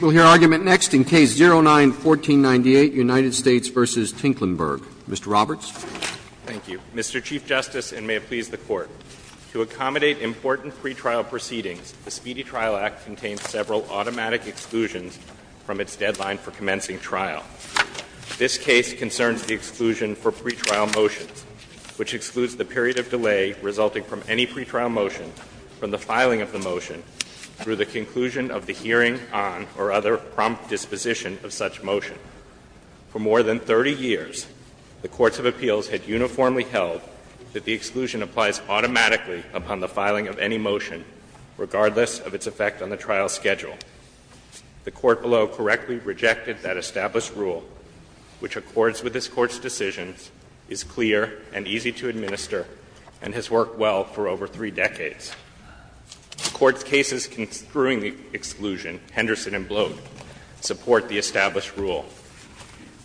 We'll hear argument next in Case 09-1498, United States v. Tinklenberg. Mr. Roberts. Thank you. Mr. Chief Justice, and may it please the Court, to accommodate important pretrial proceedings, the Speedy Trial Act contains several automatic exclusions from its deadline for commencing trial. This case concerns the exclusion for pretrial motions, which excludes the period of delay resulting from any pretrial motion from the filing of the motion through the conclusion of the hearing on or other prompt disposition of such motion. For more than 30 years, the courts of appeals had uniformly held that the exclusion applies automatically upon the filing of any motion, regardless of its effect on the trial schedule. The Court below correctly rejected that established rule, which accords with this Court's decision, is clear and easy to administer, and has worked well for over three decades. The Court's cases construing the exclusion, Henderson and Bloat, support the established rule.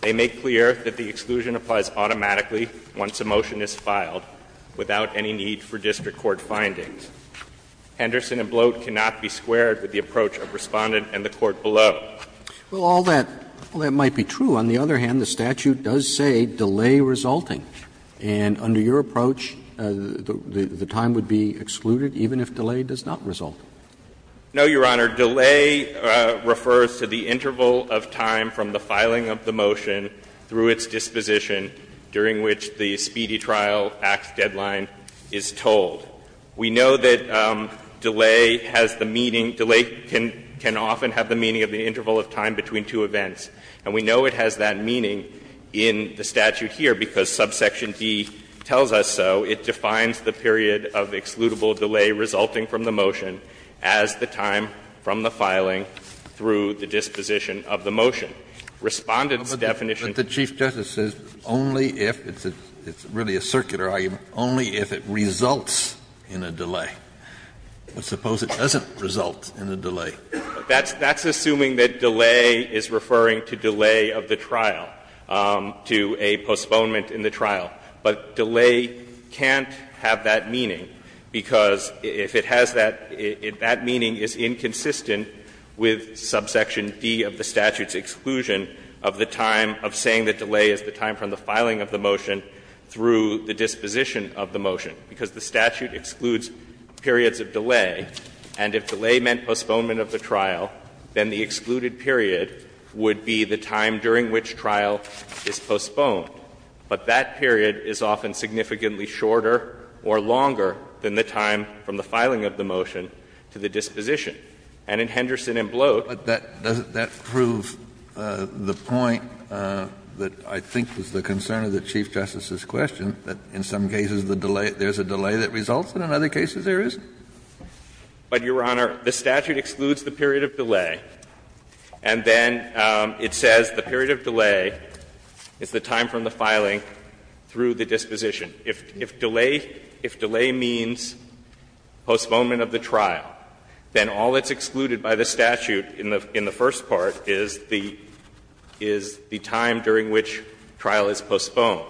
They make clear that the exclusion applies automatically once a motion is filed without any need for district court findings. Henderson and Bloat cannot be squared with the approach of Respondent and the Court below. Well, all that might be true. On the other hand, the statute does say delay resulting, and under your approach, the time would be excluded even if delay does not result. No, Your Honor. Delay refers to the interval of time from the filing of the motion through its disposition during which the speedy trial act deadline is told. We know that delay has the meaning of the interval of time between two events. And we know it has that meaning in the statute here, because subsection D tells us so, it defines the period of excludable delay resulting from the motion as the time from the filing through the disposition of the motion. Respondent's definition. Kennedy, but the Chief Justice says only if it's a, it's really a circular argument, only if it results in a delay. Suppose it doesn't result in a delay. That's assuming that delay is referring to delay of the trial, to a postponement in the trial. But delay can't have that meaning, because if it has that, if that meaning is inconsistent with subsection D of the statute's exclusion of the time of saying that delay is the time from the filing of the motion through the disposition of the motion, because the statute excludes periods of delay, and if delay meant postponement of the trial, then the excluded period would be the time during which trial is postponed. But that period is often significantly shorter or longer than the time from the filing of the motion to the disposition. And in Henderson and Bloat, that doesn't that prove the point that I think was the concern of the Chief Justice's question, that in some cases the delay, there's a delay that results, and in other cases there isn't? But, Your Honor, the statute excludes the period of delay, and then it says the period of delay is the time from the filing through the disposition. If delay means postponement of the trial, then all that's excluded by the statute in the first part is the time during which trial is postponed.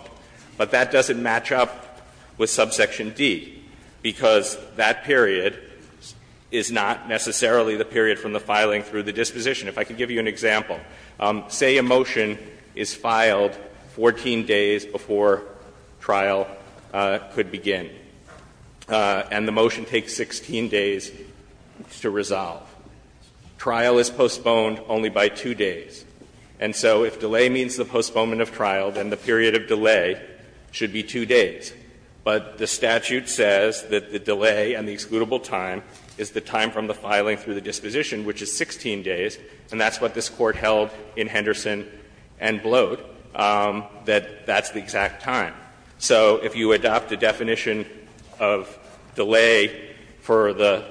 But that doesn't match up with subsection D, because that period is not necessarily the period from the filing through the disposition. If I could give you an example. Say a motion is filed 14 days before trial could begin, and the motion takes 16 days to resolve. Trial is postponed only by 2 days. And so if delay means the postponement of trial, then the period of delay should be 2 days. But the statute says that the delay and the excludable time is the time from the filing through the disposition, which is 16 days, and that's what this Court held in Henderson and Bloat, that that's the exact time. So if you adopt a definition of delay for the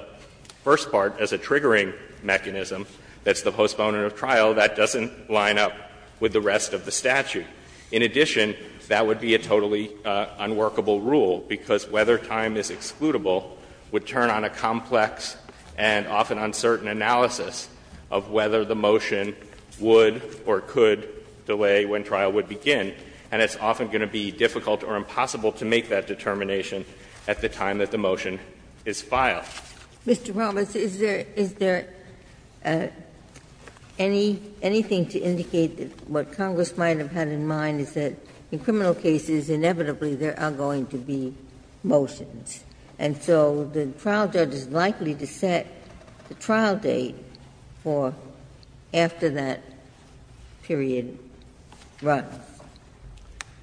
first part as a triggering mechanism that's the postponement of trial, that doesn't line up with the rest of the statute. In addition, that would be a totally unworkable rule, because whether time is excludable would turn on a complex and often uncertain analysis of whether the motion would or could delay when trial would begin. And it's often going to be difficult or impossible to make that determination at the time that the motion is filed. Ginsburg. Mr. Palmas, is there anything to indicate that what Congress might have had in mind is that in criminal cases, inevitably, there are going to be motions. And so the trial judge is likely to set the trial date for after that period runs. Palmas.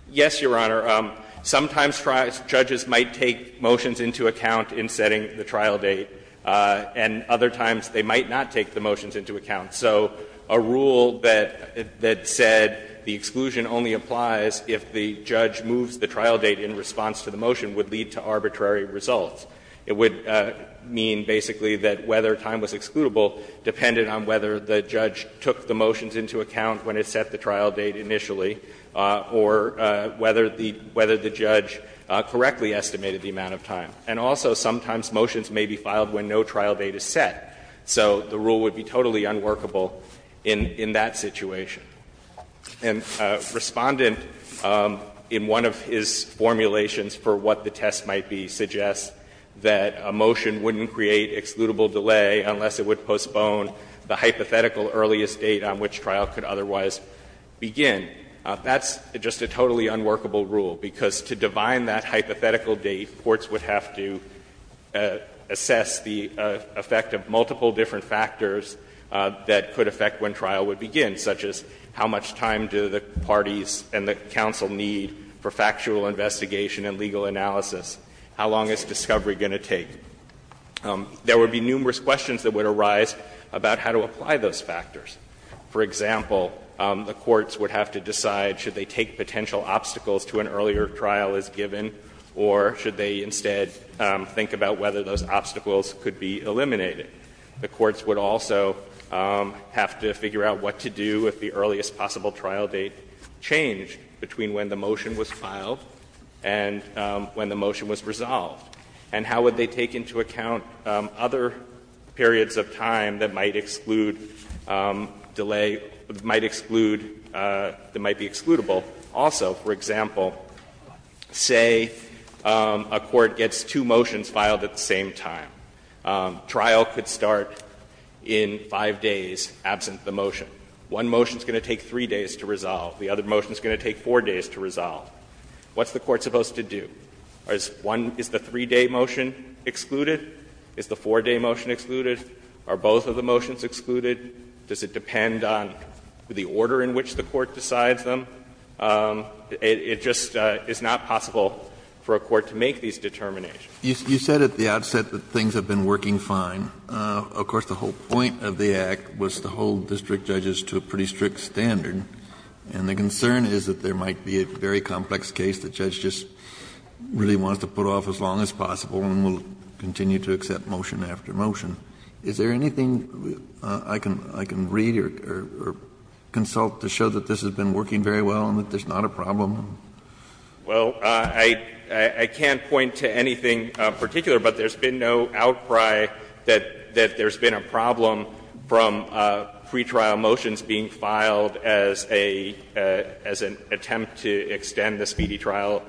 Yes, Your Honor. Sometimes judges might take motions into account in setting the trial date, and other times they might not take the motions into account. So a rule that said the exclusion only applies if the judge moves the trial date in response to the motion would lead to arbitrary results. It would mean basically that whether time was excludable depended on whether the judge took the motions into account when it set the trial date initially or whether the judge correctly estimated the amount of time. And also, sometimes motions may be filed when no trial date is set. So the rule would be totally unworkable in that situation. And Respondent, in one of his formulations for what the test might be, suggests that a motion wouldn't create excludable delay unless it would postpone the hypothetical earliest date on which trial could otherwise begin. That's just a totally unworkable rule, because to divine that hypothetical date, courts would have to assess the effect of multiple different factors that could affect when trial would begin, such as how much time do the parties and the counsel need for factual investigation and legal analysis, how long is discovery going to take. There would be numerous questions that would arise about how to apply those factors. For example, the courts would have to decide should they take potential obstacles to an earlier trial as given, or should they instead think about whether those obstacles could be eliminated. The courts would also have to figure out what to do if the earliest possible trial date changed between when the motion was filed and when the motion was resolved. And how would they take into account other periods of time that might exclude delay, that might exclude, that might be excludable? Also, for example, say a court gets two motions filed at the same time. Trial could start in 5 days absent the motion. One motion is going to take 3 days to resolve. The other motion is going to take 4 days to resolve. What's the court supposed to do? Is one of the three-day motion excluded? Is the four-day motion excluded? Are both of the motions excluded? Does it depend on the order in which the court decides them? It just is not possible for a court to make these determinations. Kennedy, you said at the outset that things have been working fine. Of course, the whole point of the Act was to hold district judges to a pretty strict standard. And the concern is that there might be a very complex case that the judge just really wants to put off as long as possible and will continue to accept motion after motion. Is there anything I can read or consult to show that this has been working very well and that there's not a problem? Well, I can't point to anything particular, but there's been no outcry that there's been a problem from pretrial motions being filed as a attempt to extend the Speedy Trial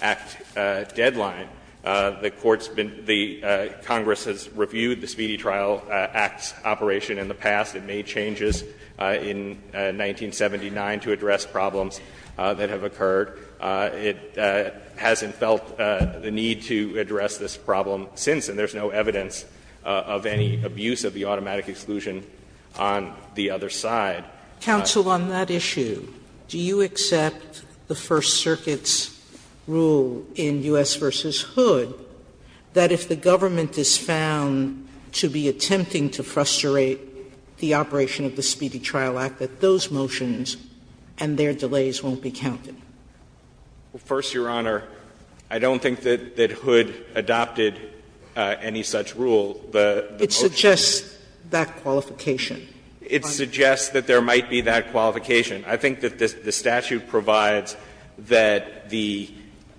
Act deadline. The Court's been the Congress has reviewed the Speedy Trial Act's operation in the past. It made changes in 1979 to address problems that have occurred. It hasn't felt the need to address this problem since, and there's no evidence of any abuse of the automatic exclusion on the other side. Counsel, on that issue, do you accept the First Circuit's rule in U.S. v. Hood that if the government is found to be attempting to frustrate the operation of the Speedy Trial Act, that those motions and their delays won't be counted? First, Your Honor, I don't think that Hood adopted any such rule. The motion is just that qualification. It suggests that there might be that qualification. I think that the statute provides that the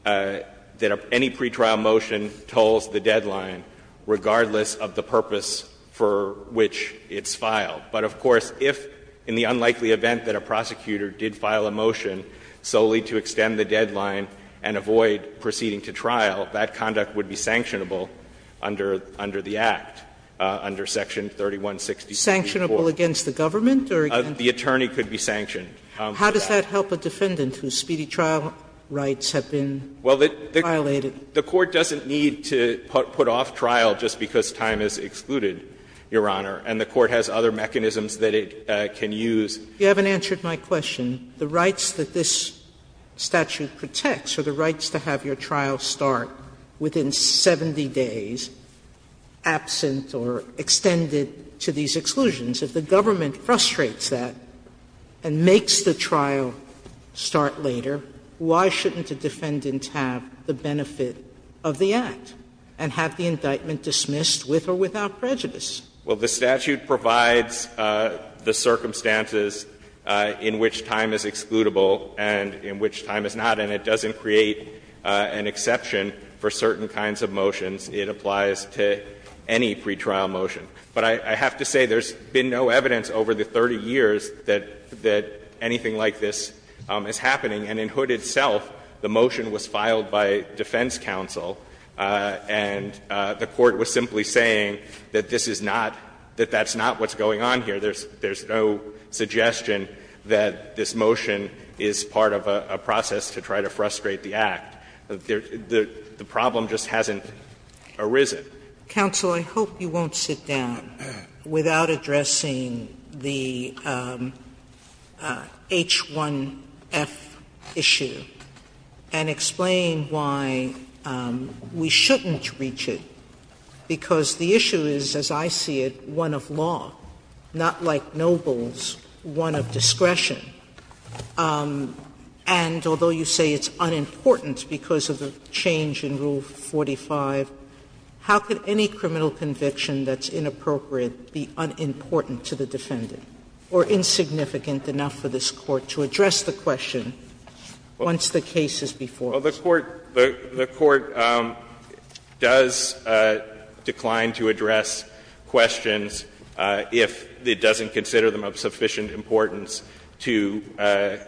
any pretrial motion tolls the deadline regardless of the purpose for which it's filed. But, of course, if in the unlikely event that a prosecutor did file a motion solely to extend the deadline and avoid proceeding to trial, that conduct would be sanctionable under the Act, under section 3164. Sanctionable against the government or against the government? The attorney could be sanctioned. How does that help a defendant whose speedy trial rights have been violated? Well, the Court doesn't need to put off trial just because time is excluded, Your Honor. And the Court has other mechanisms that it can use. You haven't answered my question. The rights that this statute protects are the rights to have your trial start within 70 days, absent or extended to these exclusions. If the government frustrates that and makes the trial start later, why shouldn't a defendant have the benefit of the Act and have the indictment dismissed with or without prejudice? Well, the statute provides the circumstances in which time is excludable and in which time is not, and it doesn't create an exception for certain kinds of motions. It applies to any pretrial motion. But I have to say there's been no evidence over the 30 years that anything like this is happening. And in Hood itself, the motion was filed by defense counsel, and the Court was simply saying that this is not, that that's not what's going on here. There's no suggestion that this motion is part of a process to try to frustrate the Act. The problem just hasn't arisen. Sotomayor. Counsel, I hope you won't sit down without addressing the H1F issue and explain why we shouldn't reach it, because the issue is, as I see it, one of law, not like nobles, one of discretion. And although you say it's unimportant because of the change in Rule 45, how can any criminal conviction that's inappropriate be unimportant to the defendant or insignificant enough for this Court to address the question once the case is before us? Well, the Court does decline to address questions if it doesn't consider them of sufficient importance to,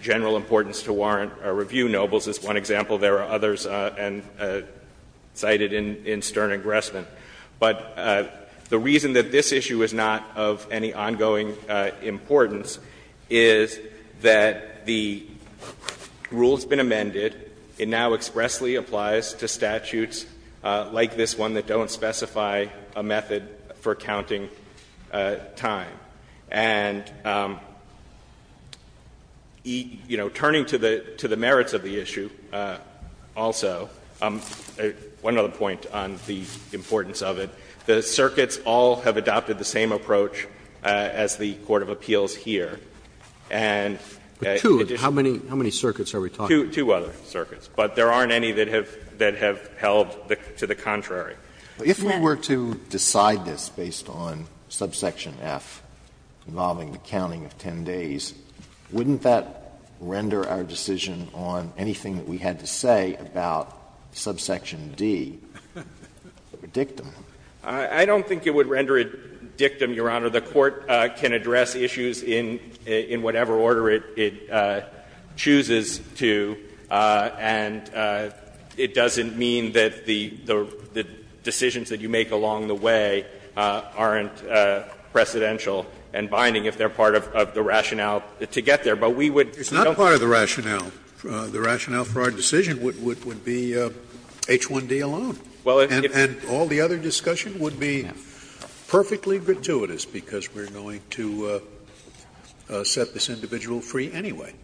general importance to warrant a review. In the case of two nobles, as one example, there are others cited in Stern and Gressman. But the reason that this issue is not of any ongoing importance is that the rule that's been amended, it now expressly applies to statutes like this one that don't specify a method for counting time. And, you know, turning to the merits of the issue also, one other point on the importance of it, the circuits all have adopted the same approach as the court of appeals And additionally But two? How many circuits are we talking about? Two other circuits. But there aren't any that have held to the contrary. If we were to decide this based on subsection F involving the counting of 10 days, wouldn't that render our decision on anything that we had to say about subsection D a dictum? I don't think it would render it a dictum, Your Honor. The Court can address issues in whatever order it chooses to, and it doesn't mean that the decisions that you make along the way aren't precedential and binding if they're part of the rationale to get there. But we would It's not part of the rationale. The rationale for our decision would be H1D alone. And all the other discussion would be perfectly gratuitous, because we're going to set this individual free anyway,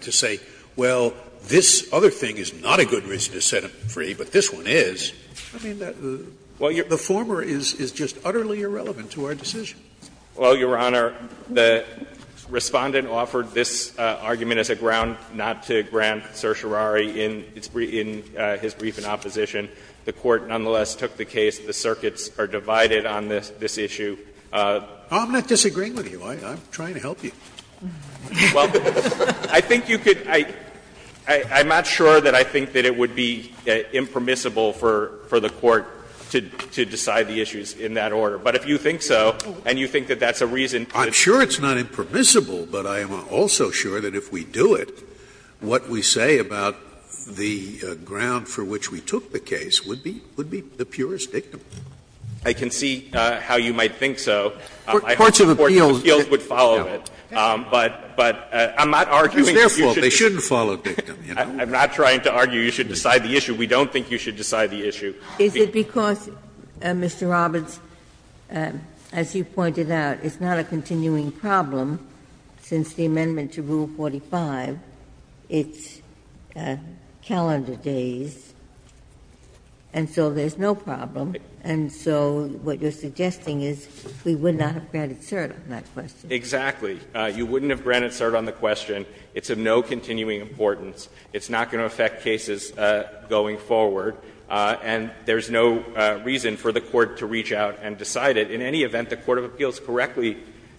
to say, well, this other thing is not a good reason to set him free, but this one is. I mean, the former is just utterly irrelevant to our decision. Well, Your Honor, the Respondent offered this argument as a ground not to grant certiorari in his brief in opposition. The Court nonetheless took the case the circuits are divided on this issue. I'm not disagreeing with you. I'm trying to help you. Well, I think you could — I'm not sure that I think that it would be impermissible for the Court to decide the issues in that order. But if you think so, and you think that that's a reason to I'm sure it's not impermissible, but I am also sure that if we do it, what we say about the ground for which we took the case would be the purest dictum. I can see how you might think so. Courts of appeals would follow it. But I'm not arguing that you should It's their fault. They shouldn't follow dictum. I'm not trying to argue you should decide the issue. We don't think you should decide the issue. Is it because, Mr. Roberts, as you pointed out, it's not a continuing problem since the amendment to Rule 45, it's calendar days, and so there's no problem. And so what you're suggesting is we would not have granted cert on that question. Exactly. You wouldn't have granted cert on the question. It's of no continuing importance. It's not going to affect cases going forward. And there's no reason for the Court to reach out and decide it. In any event, the court of appeals correctly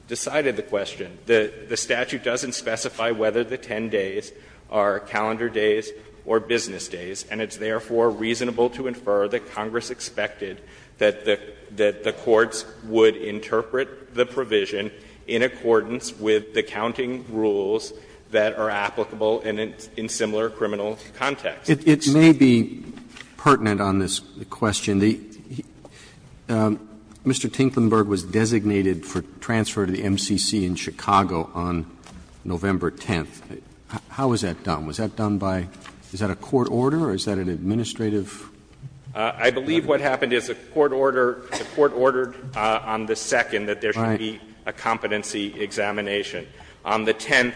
decided the question. The statute doesn't specify whether the 10 days are calendar days or business days, and it's therefore reasonable to infer that Congress expected that the courts would interpret the provision in accordance with the counting rules that are applicable in similar criminal contexts. It may be pertinent on this question. Mr. Tinklenburg was designated for transfer to the MCC in Chicago on November 10th. How was that done? Was that done by – is that a court order or is that an administrative requirement? I believe what happened is the court ordered on the 2nd that there should be a competency examination. On the 10th,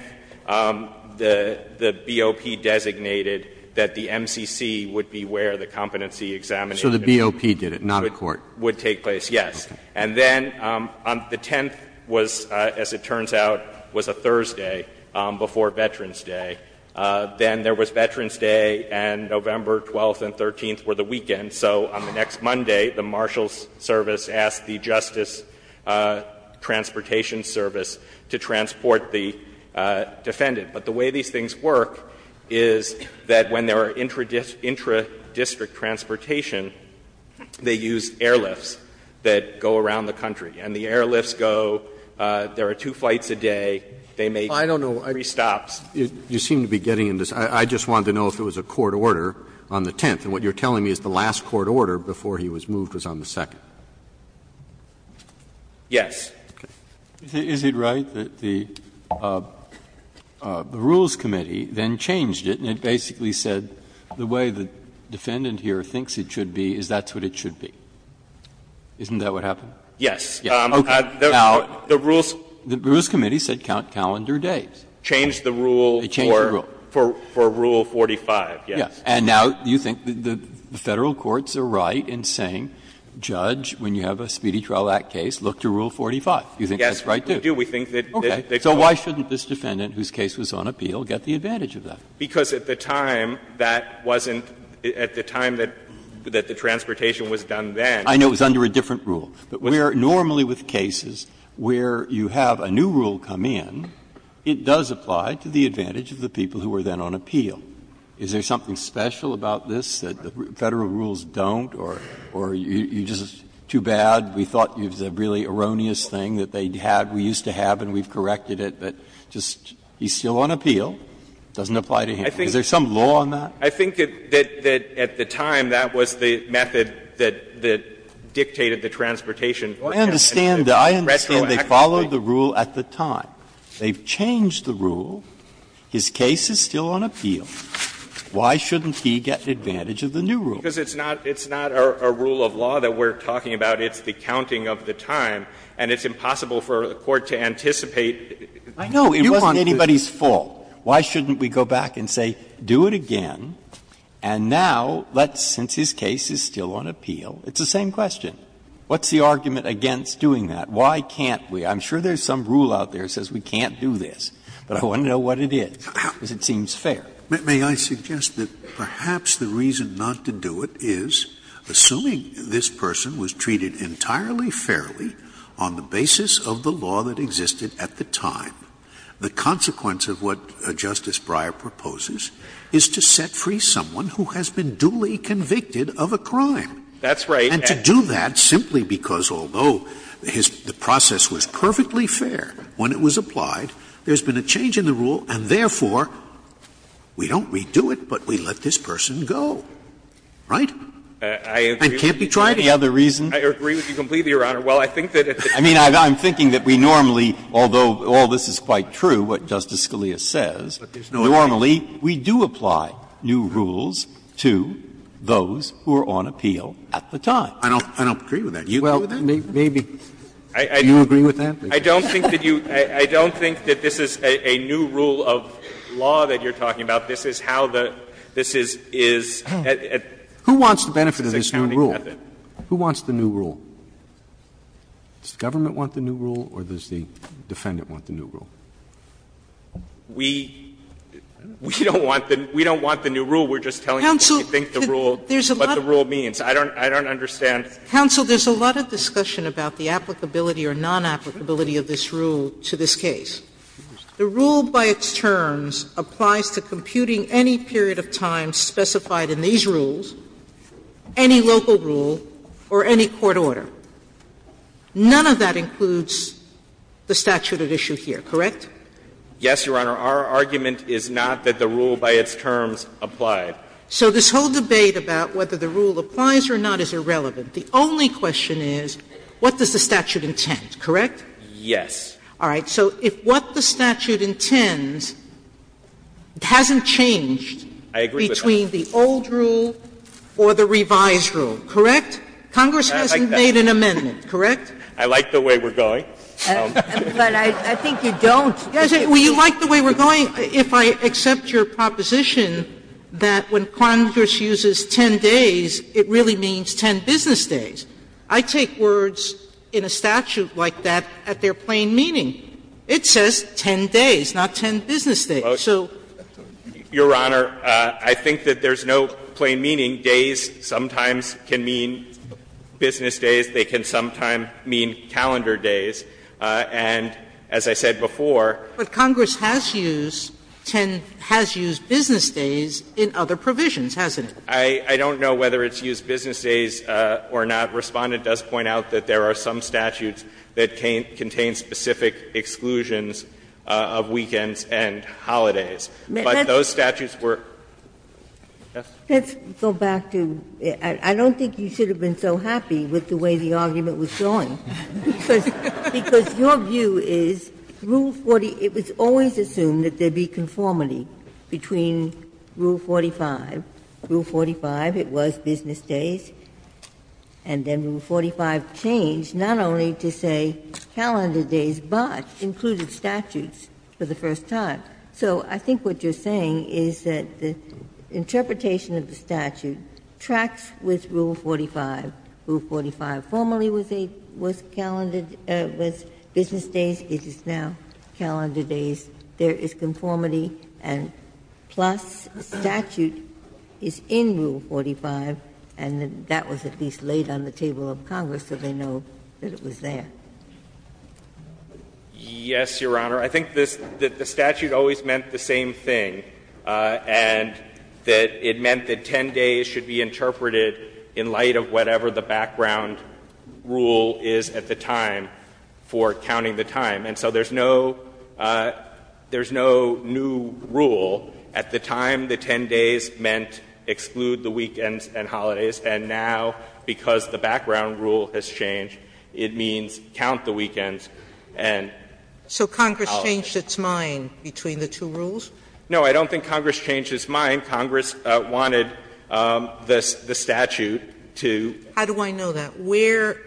the BOP designated that the MCC would be where the competency examination would take place. So the BOP did it, not a court? Yes. And then on the 10th was, as it turns out, was a Thursday before Veterans Day, then there was Veterans Day, and November 12th and 13th were the weekend. So on the next Monday, the Marshals Service asked the Justice Transportation Service to transport the defendant. But the way these things work is that when there are intradistrict transportation, they use airlifts that go around the country. And the airlifts go, there are two flights a day, they make three stops. You seem to be getting into this. I just wanted to know if it was a court order on the 10th, and what you're telling me is the last court order before he was moved was on the 2nd. Yes. Is it right that the Rules Committee then changed it and it basically said the way the defendant here thinks it should be is that's what it should be? Isn't that what happened? Yes. Okay. Now, the Rules Committee said count calendar days. Changed the rule for Rule 45, yes. And now you think the Federal courts are right in saying, Judge, when you have a Speedy Trial Act case, look to Rule 45. Do you think that's right, too? Yes, we do. We think that they've got it. Okay. So why shouldn't this defendant whose case was on appeal get the advantage of that? Because at the time, that wasn't at the time that the transportation was done then. I know it was under a different rule. But where normally with cases where you have a new rule come in, it does apply to the advantage of the people who are then on appeal. Is there something special about this that the Federal rules don't or you're just too bad, we thought it was a really erroneous thing that they had, we used to have and we've corrected it, but just he's still on appeal, doesn't apply to him? Is there some law on that? I think that at the time, that was the method that dictated the transportation retroactively. I understand they followed the rule at the time. They've changed the rule, his case is still on appeal. Why shouldn't he get the advantage of the new rule? Because it's not a rule of law that we're talking about. It's the counting of the time, and it's impossible for a court to anticipate if you want to. I know. It wasn't anybody's fault. Why shouldn't we go back and say, do it again, and now, let's, since his case is still on appeal, it's the same question. What's the argument against doing that? Why can't we? I'm sure there's some rule out there that says we can't do this, but I want to know what it is, because it seems fair. Scalia. May I suggest that perhaps the reason not to do it is, assuming this person was treated entirely fairly on the basis of the law that existed at the time, the consequence of what Justice Breyer proposes is to set free someone who has been duly convicted of a crime. That's right. And to do that simply because, although the process was perfectly fair when it was applied, there's been a change in the rule, and therefore, we don't redo it, but we let this person go, right? And can't we try it any other reason? I agree with you completely, Your Honor. Well, I think that at the time, we were trying to do it, but we didn't do it. I mean, I'm thinking that we normally, although all this is quite true, what Justice Scalia says, normally, we do apply new rules to those who are on appeal at the time. I don't agree with that. Do you agree with that? Well, maybe. Do you agree with that? I don't think that you – I don't think that this is a new rule of law that you're talking about. This is how the – this is – is at a county method. Who wants the benefit of this new rule? Who wants the new rule? Does the government want the new rule or does the defendant want the new rule? We don't want the new rule. We're just telling you what we think the rule – what the rule means. I don't understand. Counsel, there's a lot of discussion about the applicability or non-applicability of this rule to this case. The rule by its terms applies to computing any period of time specified in these rules, any local rule, or any court order. None of that includes the statute at issue here, correct? Yes, Your Honor. Our argument is not that the rule by its terms applied. So this whole debate about whether the rule applies or not is irrelevant. The only question is what does the statute intend, correct? Yes. All right. So if what the statute intends hasn't changed between the old rule or the revised rule, correct? Congress hasn't made an amendment, correct? I like the way we're going. But I think you don't. Well, you like the way we're going if I accept your proposition that when Congress uses 10 days, it really means 10 business days. I take words in a statute like that at their plain meaning. It says 10 days, not 10 business days. So your Honor, I think that there's no plain meaning. Days sometimes can mean business days. They can sometimes mean calendar days. And as I said before. But Congress has used 10 has used business days in other provisions, hasn't it? I don't know whether it's used business days or not. Respondent does point out that there are some statutes that contain specific exclusions of weekends and holidays. But those statutes were. Yes. Ginsburg. Let's go back to the rule 40. I don't think you should have been so happy with the way the argument was going. Because your view is rule 40, it was always assumed that there would be conformity between rule 45. Rule 45, it was business days. And then rule 45 changed not only to say calendar days, but included statutes for the first time. So I think what you're saying is that the interpretation of the statute tracks with rule 45. Rule 45 formerly was a calendar, was business days, it is now calendar days. There is conformity and plus statute is in rule 45, and that was at least laid on the table of Congress, so they know that it was there. Yes, Your Honor. I think that the statute always meant the same thing, and that it meant that 10 days should be interpreted in light of whatever the background rule is at the time for counting the time. And so there is no new rule. At the time, the 10 days meant exclude the weekends and holidays. And now, because the background rule has changed, it means count the weekends and count the holidays. Sotomayor, so Congress changed its mind between the two rules? No, I don't think Congress changed its mind. Congress wanted the statute to. How do I know that? Where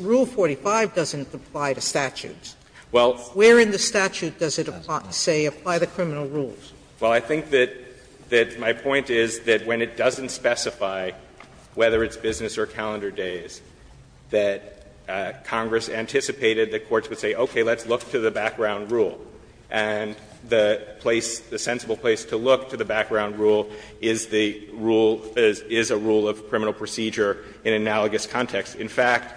rule 45 doesn't apply to statutes. Well, where in the statute does it, say, apply the criminal rules? Well, I think that my point is that when it doesn't specify whether it's business or calendar days, that Congress anticipated that courts would say, okay, let's look to the background rule. And the place, the sensible place to look to the background rule is the rule, is a rule of criminal procedure in analogous context. In fact,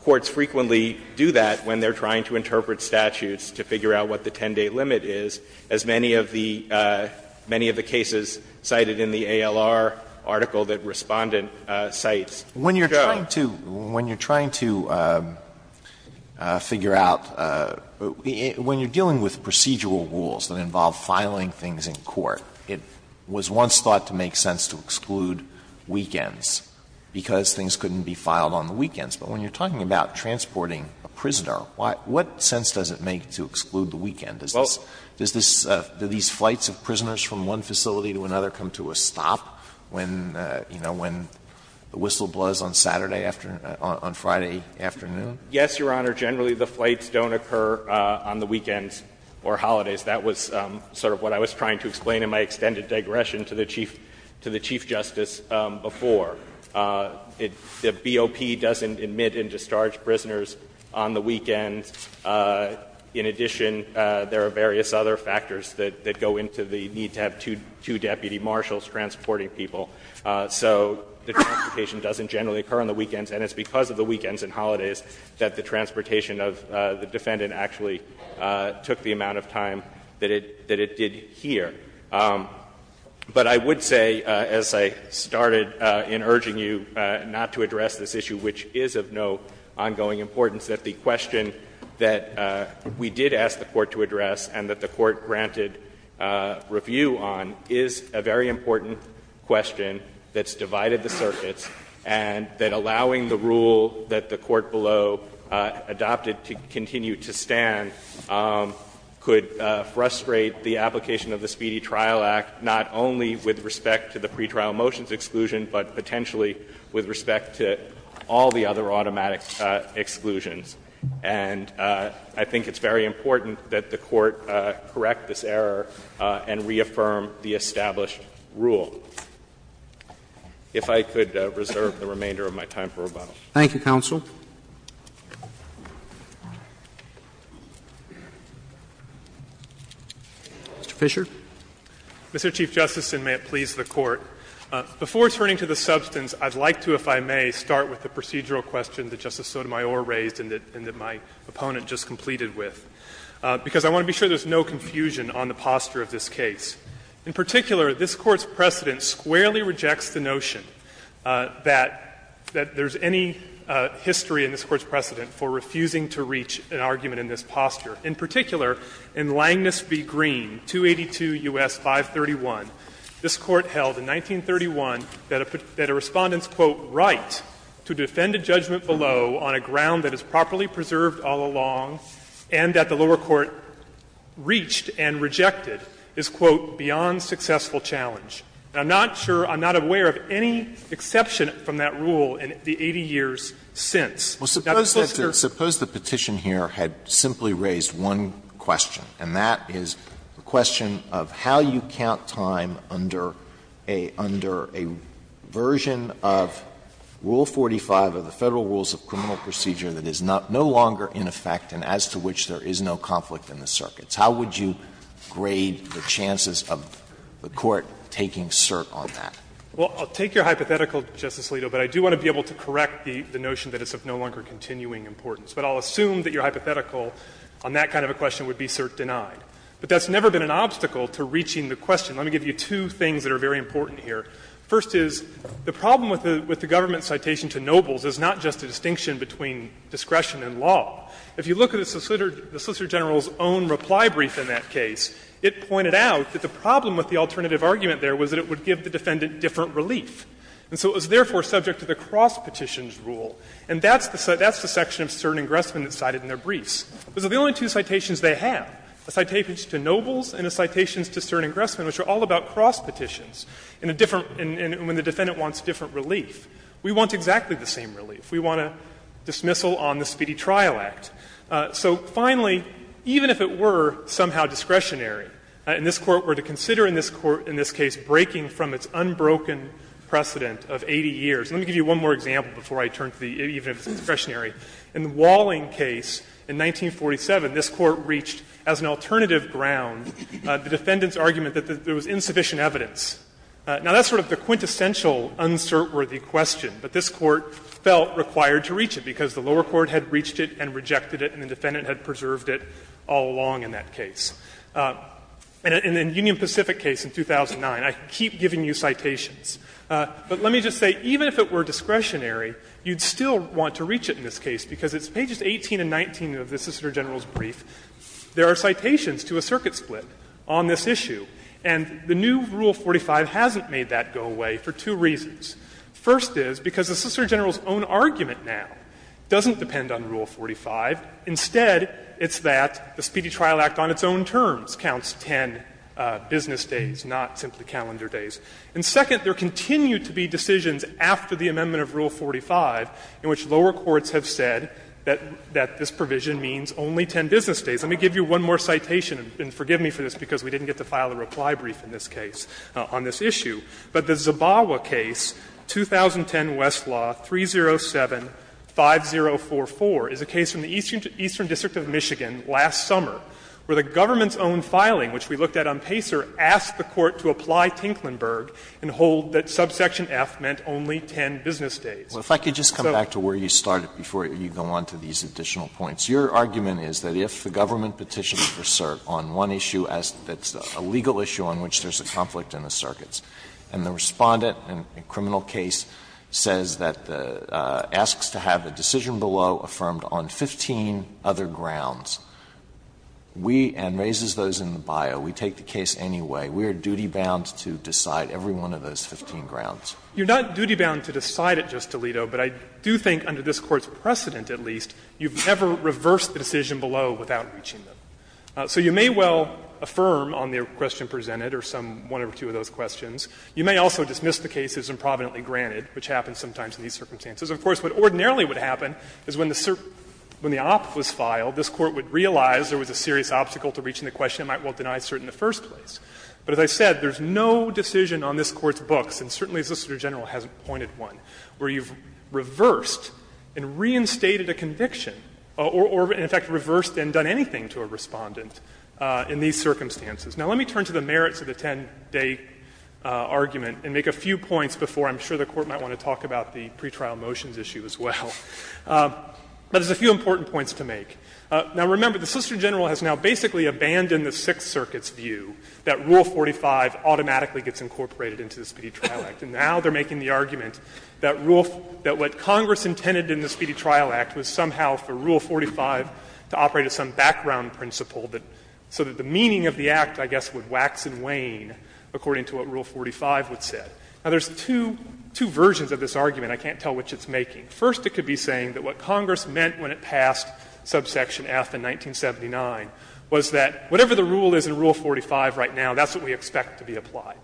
courts frequently do that when they're trying to interpret statutes to figure out what the 10-day limit is, as many of the cases cited in the ALR article that Respondent cites show. Alito, when you're trying to figure out – when you're dealing with procedural rules that involve filing things in court, it was once thought to make sense to exclude weekends, because things couldn't be filed on the weekends. But when you're talking about transporting a prisoner, what sense does it make to exclude the weekend? Does this – do these flights of prisoners from one facility to another come to a stop when, you know, when the whistle blows on Saturday afternoon – on Friday afternoon? Yes, Your Honor. Generally, the flights don't occur on the weekends or holidays. That was sort of what I was trying to explain in my extended digression to the Chief Justice before. The BOP doesn't admit and discharge prisoners on the weekends. In addition, there are various other factors that go into the need to have two deputy marshals transporting people. So the transportation doesn't generally occur on the weekends, and it's because of the weekends and holidays that the transportation of the defendant actually took the amount of time that it did here. But I would say, as I started in urging you not to address this issue, which is of no ongoing importance, that the question that we did ask the Court to address and that the Court granted review on is a very important question that's divided the circuits and that allowing the rule that the Court below adopted to continue to stand could frustrate the application of the Speedy Trial Act, not only with respect to the pretrial motions exclusion, but potentially with respect to all the other automatic exclusions. And I think it's very important that the Court correct this error and reaffirm the established rule. If I could reserve the remainder of my time for rebuttal. Roberts. Thank you, counsel. Mr. Fisher. Mr. Chief Justice, and may it please the Court. Before turning to the substance, I'd like to, if I may, start with the procedural question that Justice Sotomayor raised and that my opponent just completed with, because I want to be sure there's no confusion on the posture of this case. In particular, this Court's precedent squarely rejects the notion that there's any history in this Court's precedent for refusing to reach an argument in this posture. In particular, in Langness v. Green, 282 U.S. 531, this Court held in 1931 that a Respondent's right to defend a judgment below on a ground that is properly preserved all along and that the lower court reached and rejected is, quote, beyond successful challenge. I'm not sure, I'm not aware of any exception from that rule in the 80 years since. Now, suppose the Petition here had simply raised one question, and that is the question of how you count time under a version of Rule 45 of the Federal Rules of Criminal Procedure that is no longer in effect and as to which there is no conflict in the circuits. How would you grade the chances of the Court taking cert on that? Well, I'll take your hypothetical, Justice Alito, but I do want to be able to correct the notion that it's of no longer continuing importance. But I'll assume that your hypothetical on that kind of a question would be cert denied. But that's never been an obstacle to reaching the question. Let me give you two things that are very important here. First is, the problem with the government's citation to Nobles is not just a distinction between discretion and law. If you look at the Solicitor General's own reply brief in that case, it pointed out that the problem with the alternative argument there was that it would give the defendant different relief. And so it was therefore subject to the cross-petition's rule. And that's the section of cert ingressment that's cited in their briefs. Those are the only two citations they have, a citation to Nobles and a citation to cert ingressment, which are all about cross-petitions in a different and when the defendant wants different relief. We want exactly the same relief. We want a dismissal on the Speedy Trial Act. So finally, even if it were somehow discretionary, and this Court were to consider in this Court, in this case, breaking from its unbroken precedent of 80 years. Let me give you one more example before I turn to the discretionary. In the Walling case in 1947, this Court reached as an alternative ground the defendant's argument that there was insufficient evidence. Now, that's sort of the quintessential uncert-worthy question, but this Court felt required to reach it because the lower court had reached it and rejected it and the defendant had preserved it all along in that case. In the Union Pacific case in 2009, I keep giving you citations, but let me just say, even if it were discretionary, you'd still want to reach it in this case. Because it's pages 18 and 19 of the Assistant Attorney General's brief, there are citations to a circuit split on this issue, and the new Rule 45 hasn't made that go away for two reasons. First is because the Assistant Attorney General's own argument now doesn't depend on Rule 45. Instead, it's that the Speedy Trial Act on its own terms counts 10 business days, not simply calendar days. And second, there continue to be decisions after the amendment of Rule 45 in which lower courts have said that this provision means only 10 business days. Let me give you one more citation, and forgive me for this because we didn't get to file a reply brief in this case on this issue. But the Zabawa case, 2010 Westlaw 307-5044, is a case from the Eastern District of Michigan last summer where the government's own filing, which we looked at on Pacer, asked the Court to apply Tinklenburg and hold that subsection F meant only 10 business days. Alito, if I could just come back to where you started before you go on to these additional points. Your argument is that if the government petitions for cert on one issue that's a legal issue on which there's a conflict in the circuits, and the Respondent in a criminal case says that the asks to have a decision below affirmed on 15 other grounds, we, and raises those in the bio, we take the case anyway. We are duty-bound to decide every one of those 15 grounds. You're not duty-bound to decide it just, Alito, but I do think under this Court's precedent, at least, you've never reversed the decision below without reaching them. So you may well affirm on the question presented or some one or two of those questions. You may also dismiss the case as improvidently granted, which happens sometimes in these circumstances. Of course, what ordinarily would happen is when the cert, when the op was filed, this Court would realize there was a serious obstacle to reaching the question that might well deny cert in the first place. But as I said, there's no decision on this Court's books, and certainly the Solicitor General hasn't pointed one, where you've reversed and reinstated a conviction or, in fact, reversed and done anything to a Respondent in these circumstances. Now, let me turn to the merits of the 10-day argument and make a few points before I'm sure the Court might want to talk about the pretrial motions issue as well. But there's a few important points to make. Now, remember, the Solicitor General has now basically abandoned the Sixth Circuit's view that Rule 45 automatically gets incorporated into the Speedy Trial Act. And now they're making the argument that Rule 45, that what Congress intended in the Speedy Trial Act was somehow for Rule 45 to operate as some background principle that, so that the meaning of the act, I guess, would wax and wane according to what Rule 45 would say. Now, there's two, two versions of this argument I can't tell which it's making. First, it could be saying that what Congress meant when it passed subsection F in 1979 was that whatever the rule is in Rule 45 right now, that's what we expect to be applied.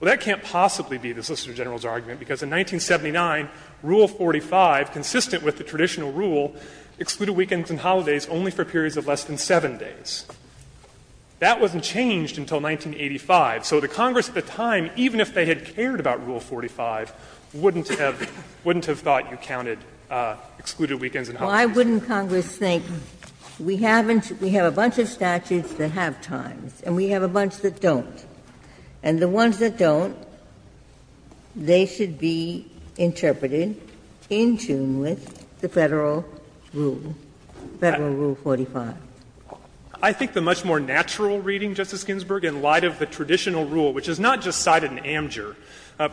Well, that can't possibly be the Solicitor General's argument, because in 1979, Rule 45, consistent with the traditional rule, excluded weekends and holidays only for periods of less than 7 days. That wasn't changed until 1985. So the Congress at the time, even if they had cared about Rule 45, wouldn't have thought you counted excluded weekends and holidays. So why wouldn't Congress think, we have a bunch of statutes that have times and we have a bunch that don't, and the ones that don't, they should be interpreted in tune with the Federal rule, Federal Rule 45? Fisherman, I think the much more natural reading, Justice Ginsburg, in light of the traditional rule, which is not just cited in Amjur,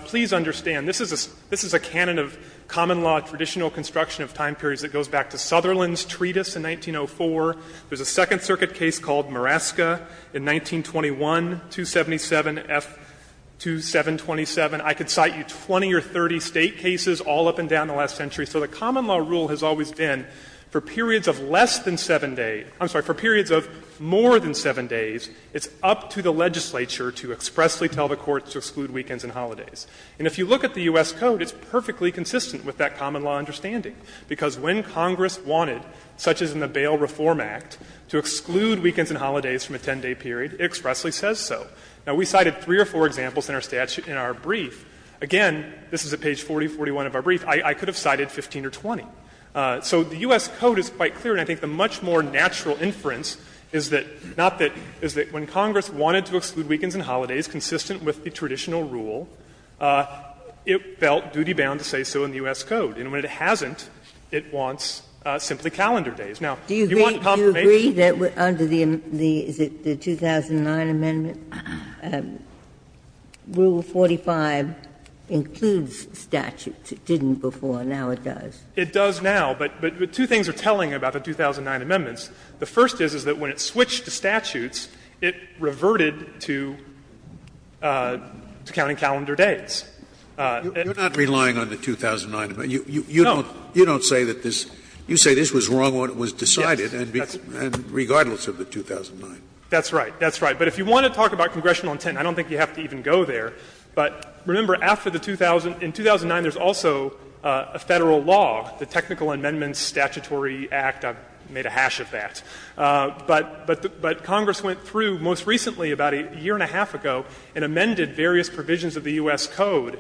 please understand, this is a canon of common law, traditional construction of time periods that goes back to Sutherland's treatise in 1904. There's a Second Circuit case called Muraska in 1921, 277F2727. I could cite you 20 or 30 State cases all up and down the last century. So the common law rule has always been for periods of less than 7 days — I'm sorry, for periods of more than 7 days, it's up to the legislature to expressly tell the Court to exclude weekends and holidays. And if you look at the U.S. Code, it's perfectly consistent with that common law understanding, because when Congress wanted, such as in the Bail Reform Act, to exclude weekends and holidays from a 10-day period, it expressly says so. Now, we cited three or four examples in our brief. Again, this is at page 4041 of our brief. I could have cited 15 or 20. So the U.S. Code is quite clear, and I think the much more natural inference is that — not that — is that when Congress wanted to exclude weekends and holidays consistent with the traditional rule, it felt duty-bound to say so in the U.S. Code. And when it hasn't, it wants simply calendar days. Now, you want confirmation. Ginsburg. Do you agree that under the 2009 amendment, Rule 45 includes statutes? It didn't before. Now it does. It does now. But two things are telling about the 2009 amendments. The first is, is that when it switched to statutes, it reverted to counting calendar days. Scalia. You're not relying on the 2009 amendment. You don't say that this — you say this was wrong when it was decided, and regardless of the 2009. That's right. That's right. But if you want to talk about congressional intent, I don't think you have to even go there. But remember, after the 2000 — in 2009, there's also a Federal law, the Technical Amendments Statutory Act. I've made a hash of that. But Congress went through most recently, about a year and a half ago, and amended various provisions of the U.S. Code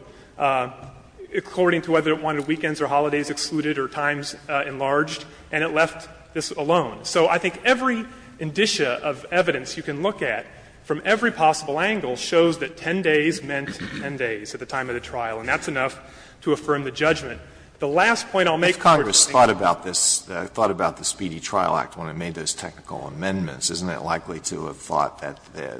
according to whether it wanted weekends or holidays excluded or times enlarged, and it left this alone. So I think every indicia of evidence you can look at from every possible angle shows that 10 days meant 10 days at the time of the trial, and that's enough to affirm the judgment. The last point I'll make, Court, is that Congress thought about this. It thought about the Speedy Trial Act when it made those technical amendments. Isn't it likely to have thought that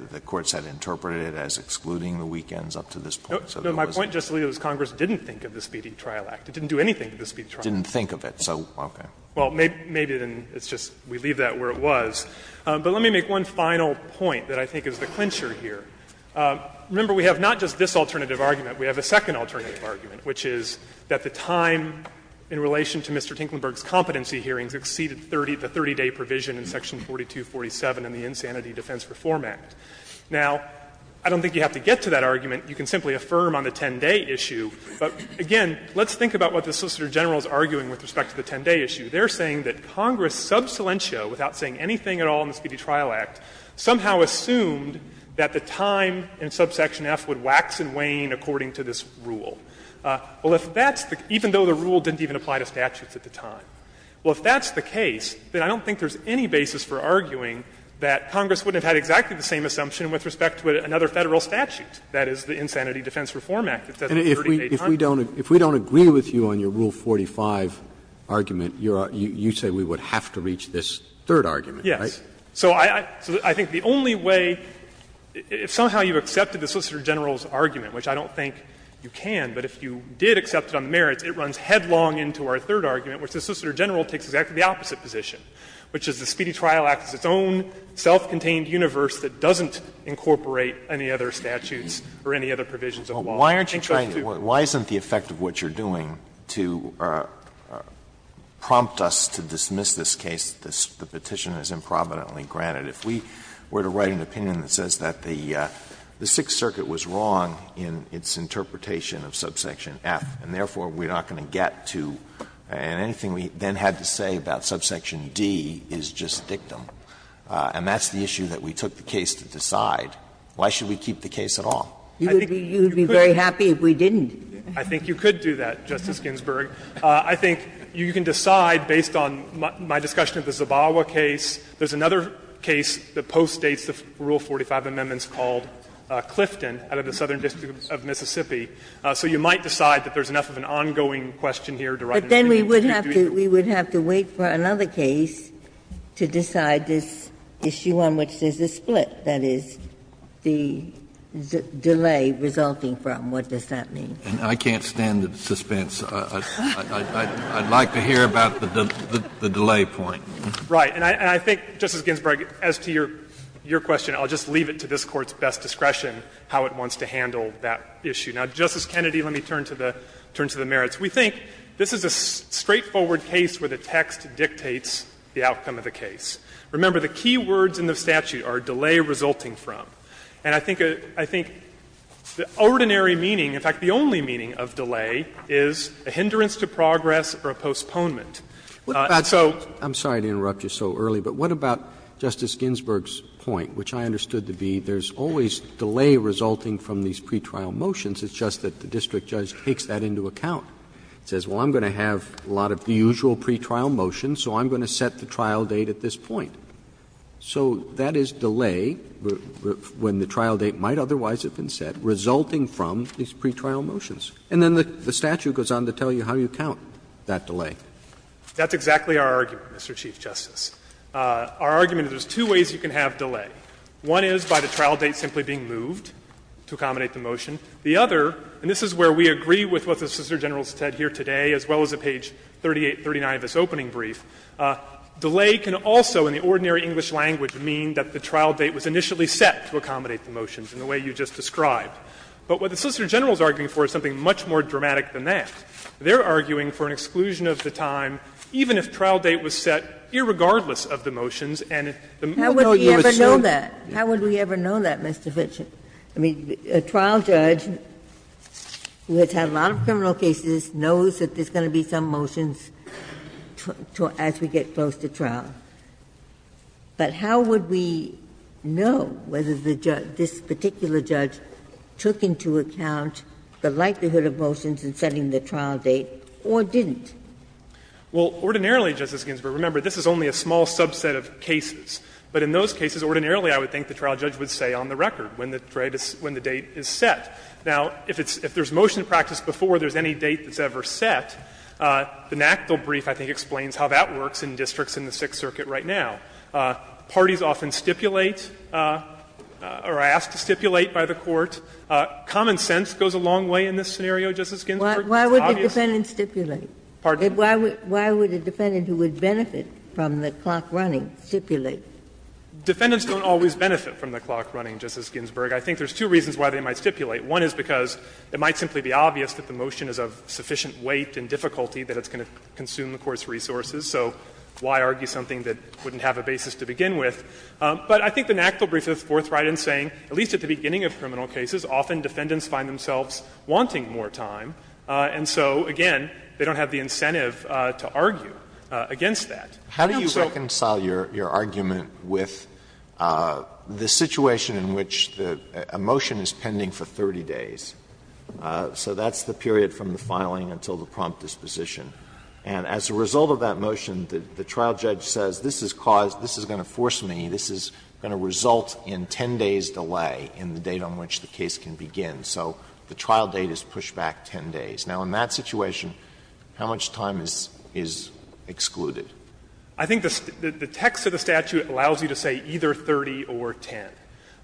the courts had interpreted it as excluding the weekends up to this point? So there was not. No, my point, Justice Alito, is Congress didn't think of the Speedy Trial Act. It didn't do anything to the Speedy Trial Act. It didn't think of it, so, okay. Well, maybe it didn't. It's just we leave that where it was. But let me make one final point that I think is the clincher here. Remember, we have not just this alternative argument. We have a second alternative argument, which is that the time in relation to Mr. Hincklenburg's competency hearings exceeded the 30-day provision in Section 4247 in the Insanity Defense Reform Act. Now, I don't think you have to get to that argument. You can simply affirm on the 10-day issue. But, again, let's think about what the Solicitor General is arguing with respect to the 10-day issue. They're saying that Congress, sub silentio, without saying anything at all in the Speedy Trial Act, somehow assumed that the time in subsection F would wax and wane according to this rule. Well, if that's the case, even though the rule didn't even apply to statutes at the time, well, if that's the case, then I don't think there's any basis for arguing that Congress wouldn't have had exactly the same assumption with respect to another Federal statute, that is, the Insanity Defense Reform Act that says the 30-day time provision. Roberts. If we don't agree with you on your Rule 45 argument, you say we would have to reach this third argument, right? Yes. So I think the only way, if somehow you accepted the Solicitor General's argument, which I don't think you can, but if you did accept it on the merits, it runs headlong into our third argument, which the Solicitor General takes exactly the opposite position, which is the Speedy Trial Act is its own self-contained universe that doesn't incorporate any other statutes or any other provisions of the law. Alito, why isn't the effect of what you're doing to prompt us to dismiss this case that the petition is improvidently granted? If we were to write an opinion that says that the Sixth Circuit was wrong in its interpretation of subsection F, and therefore we're not going to get to, and anything we then had to say about subsection D is just dictum, and that's the issue that we took the case to decide, why should we keep the case at all? I think you could do that, Justice Ginsburg. I think you can decide based on my discussion of the Zabawa case. There's another case that postdates the Rule 45 amendments called Clifton out of the Southern District of Mississippi. So you might decide that there's enough of an ongoing question here to write an opinion. Ginsburg. Ginsburg. But then we would have to wait for another case to decide this issue on which there's a split, that is, the delay resulting from. What does that mean? Kennedy, I can't stand the suspense. I'd like to hear about the delay point. Right. And I think, Justice Ginsburg, as to your question, I'll just leave it to this Court's best discretion how it wants to handle that issue. Now, Justice Kennedy, let me turn to the merits. We think this is a straightforward case where the text dictates the outcome of the case. Remember, the key words in the statute are delay resulting from. And I think the ordinary meaning, in fact the only meaning of delay, is a hindrance to progress or a postponement. So I'm sorry to interrupt you so early, but what about Justice Ginsburg's point, which I understood to be there's always delay resulting from these pretrial motions, it's just that the district judge takes that into account. It says, well, I'm going to have a lot of the usual pretrial motions, so I'm going to set the trial date at this point. So that is delay, when the trial date might otherwise have been set, resulting from these pretrial motions. And then the statute goes on to tell you how you count that delay. Fisherman That's exactly our argument, Mr. Chief Justice. Our argument is there's two ways you can have delay. One is by the trial date simply being moved to accommodate the motion. The other, and this is where we agree with what the Solicitor General has said here today, as well as at page 3839 of his opening brief, delay can also, in the ordinary English language, mean that the trial date was initially set to accommodate the motions in the way you just described. But what the Solicitor General is arguing for is something much more dramatic than that. They're arguing for an exclusion of the time, even if trial date was set, irregardless of the motions, and the moment you assume. Ginsburg How would we ever know that? How would we ever know that, Mr. Fitch? I mean, a trial judge who has had a lot of criminal cases knows that there's going to be some motions as we get close to trial. But how would we know whether the judge, this particular judge, took into account the likelihood of motions in setting the trial date or didn't? Fisherman Well, ordinarily, Justice Ginsburg, remember, this is only a small subset of cases. But in those cases, ordinarily, I would think the trial judge would say on the record when the date is set. Now, if there's motion practice before there's any date that's ever set, the NACDL brief I think explains how that works in districts in the Sixth Circuit right now. Parties often stipulate or are asked to stipulate by the court. Common sense goes a long way in this scenario, Justice Ginsburg. It's obvious. Ginsburg Why would the defendant stipulate? Fisherman Pardon? Ginsburg Why would a defendant who would benefit from the clock running stipulate? Fisherman Defendants don't always benefit from the clock running, Justice Ginsburg. I think there's two reasons why they might stipulate. One is because it might simply be obvious that the motion is of sufficient weight and difficulty that it's going to consume the court's resources, so why argue something that wouldn't have a basis to begin with? But I think the NACDL brief is forthright in saying, at least at the beginning of criminal cases, often defendants find themselves wanting more time, and so, again, they don't have the incentive to argue against that. Alito How do you reconcile your argument with the situation in which a motion is pending for 30 days? So that's the period from the filing until the prompt disposition. And as a result of that motion, the trial judge says, this is caused, this is going to force me, this is going to result in 10 days' delay in the date on which the case can begin. So the trial date is pushed back 10 days. Now, in that situation, how much time is excluded? Fisherman I think the text of the statute allows you to say either 30 or 10.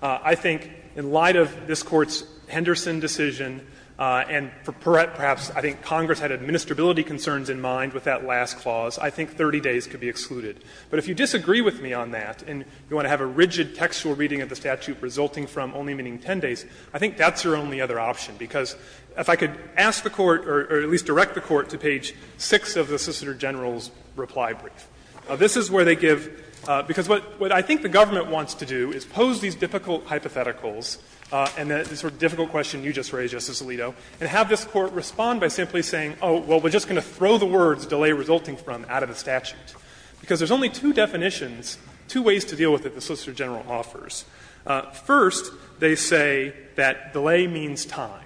I think in light of this Court's Henderson decision, and perhaps I think Congress had administrability concerns in mind with that last clause, I think 30 days could be excluded. But if you disagree with me on that, and you want to have a rigid textual reading of the statute resulting from only meaning 10 days, I think that's your only other option, because if I could ask the Court, or at least direct the Court to page 6 of the Assistant Attorney General's reply brief. This is where they give, because what I think the government wants to do is pose these difficult hypotheticals and the sort of difficult question you just raised, Justice Alito, and have this Court respond by simply saying, oh, well, we're just going to throw the words delay resulting from out of the statute, because there's only two definitions, two ways to deal with it the Solicitor General offers. First, they say that delay means time.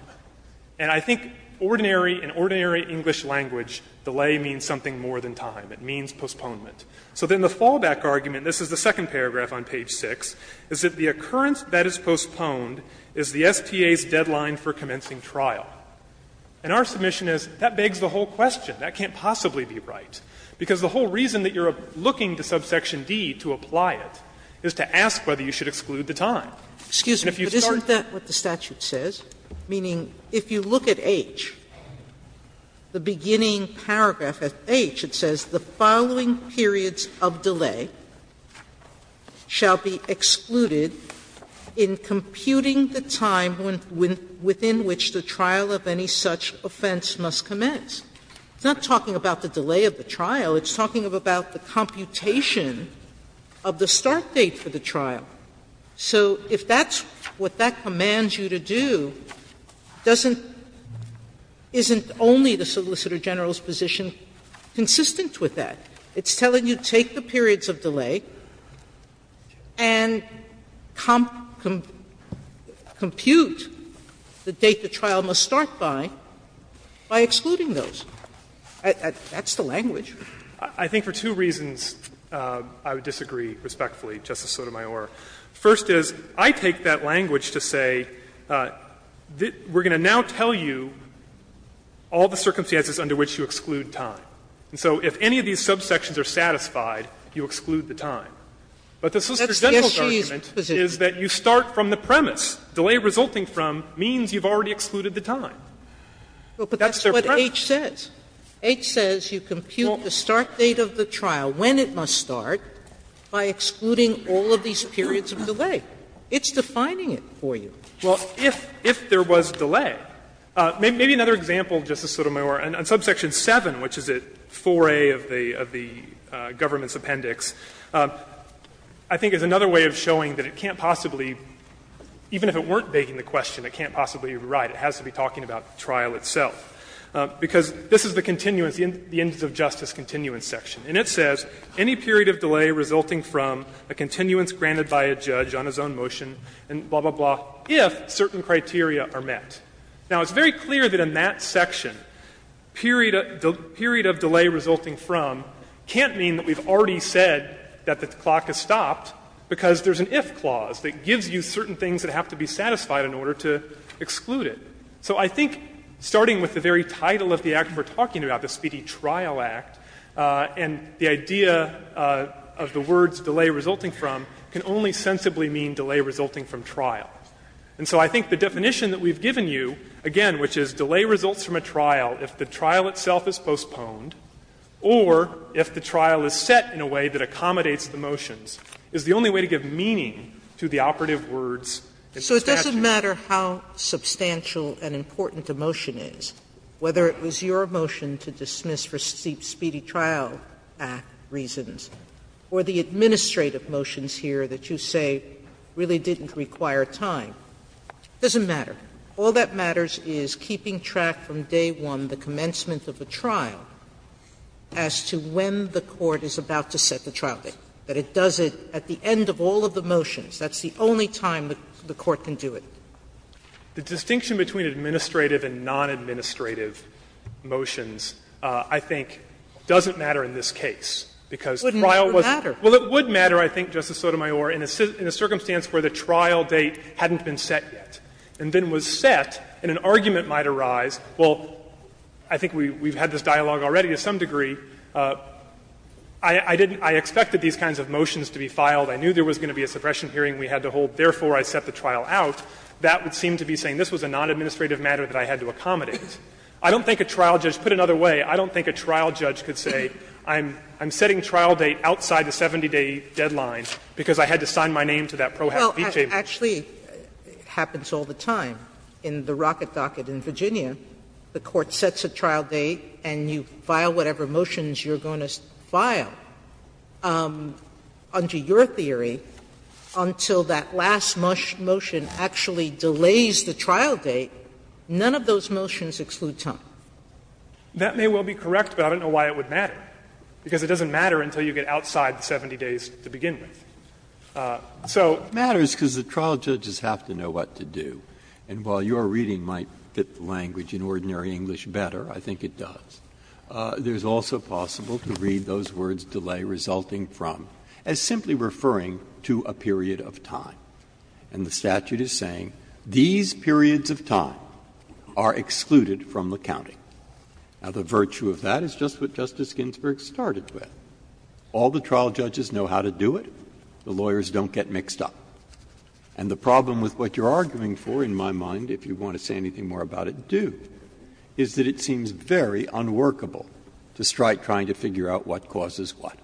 And I think ordinary, in ordinary English language, delay means something more than time. It means postponement. So then the fallback argument, this is the second paragraph on page 6, is that the recurrence that is postponed is the STA's deadline for commencing trial. And our submission is that begs the whole question. That can't possibly be right, because the whole reason that you're looking to subsection D to apply it is to ask whether you should exclude the time. And if you start with the statute says, meaning if you look at H, the beginning paragraph at H, it says, It's not talking about the delay of the trial. It's talking about the computation of the start date for the trial. So if that's what that commands you to do, doesn't — isn't only the Solicitor General's position consistent with that? It's telling you take the periods of delay and compute the date the trial must start by, by excluding those. That's the language. Fisherman, I think for two reasons, I would disagree respectfully, Justice Sotomayor. First is, I take that language to say, we're going to now tell you all the circumstances under which you exclude time. And so if any of these subsections are satisfied, you exclude the time. But the Solicitor General's argument is that you start from the premise, delay resulting from means you've already excluded the time. That's their premise. Sotomayor, H says you compute the start date of the trial, when it must start, by excluding all of these periods of delay. It's defining it for you. Fisherman, if there was delay. Maybe another example, Justice Sotomayor, on subsection 7, which is at 4A of the government's appendix, I think is another way of showing that it can't possibly — even if it weren't begging the question, it can't possibly be right. It has to be talking about the trial itself. Because this is the continuance, the ends of justice continuance section. And it says, any period of delay resulting from a continuance granted by a judge on his own motion, and blah, blah, blah, if certain criteria are met. Now, it's very clear that in that section, period of delay resulting from can't mean that we've already said that the clock has stopped, because there's an if clause that gives you certain things that have to be satisfied in order to exclude it. So I think starting with the very title of the act we're talking about, the Speedy Trial Act, and the idea of the words delay resulting from can only sensibly mean delay resulting from trial. And so I think the definition that we've given you, again, which is delay results from a trial if the trial itself is postponed or if the trial is set in a way that accommodates the motions, is the only way to give meaning to the operative words in statute. Sotomayor, So it doesn't matter how substantial and important a motion is, whether it was your motion to dismiss for Speedy Trial Act reasons, or the administrative motions here that you say really didn't require time, it doesn't matter. All that matters is keeping track from day one, the commencement of a trial, as to when the court is about to set the trial date, that it does it at the end of all of the motions. That's the only time the court can do it. The distinction between administrative and non-administrative motions, I think, doesn't matter in this case, because the trial wasn't. Sotomayor, Well, it would matter, I think, Justice Sotomayor, in a circumstance where the trial date hadn't been set yet, and then was set, and an argument might arise. Well, I think we've had this dialogue already to some degree. I didn't — I expected these kinds of motions to be filed. I knew there was going to be a suppression hearing we had to hold. Therefore, I set the trial out. That would seem to be saying this was a non-administrative matter that I had to accommodate. I don't think a trial judge — put another way, I don't think a trial judge could say, I'm setting trial date outside the 70-day deadline because I had to sign my name to that pro-habit beat table. Sotomayor, Well, actually, it happens all the time. In the Rocket Docket in Virginia, the court sets a trial date and you file whatever motions you're going to file under your theory until that last motion actually delays the trial date, none of those motions exclude time. That may well be correct, but I don't know why it would matter, because it doesn't matter until you get outside the 70 days to begin with. So it matters because the trial judges have to know what to do, and while your reading might fit the language in ordinary English better, I think it does. There's also possible to read those words delay resulting from as simply referring to a period of time. And the statute is saying these periods of time are excluded from the counting. Now, the virtue of that is just what Justice Ginsburg started with. All the trial judges know how to do it. The lawyers don't get mixed up. And the problem with what you're arguing for, in my mind, if you want to say anything more about it, do, is that it seems very unworkable to strike trying to figure out what causes what.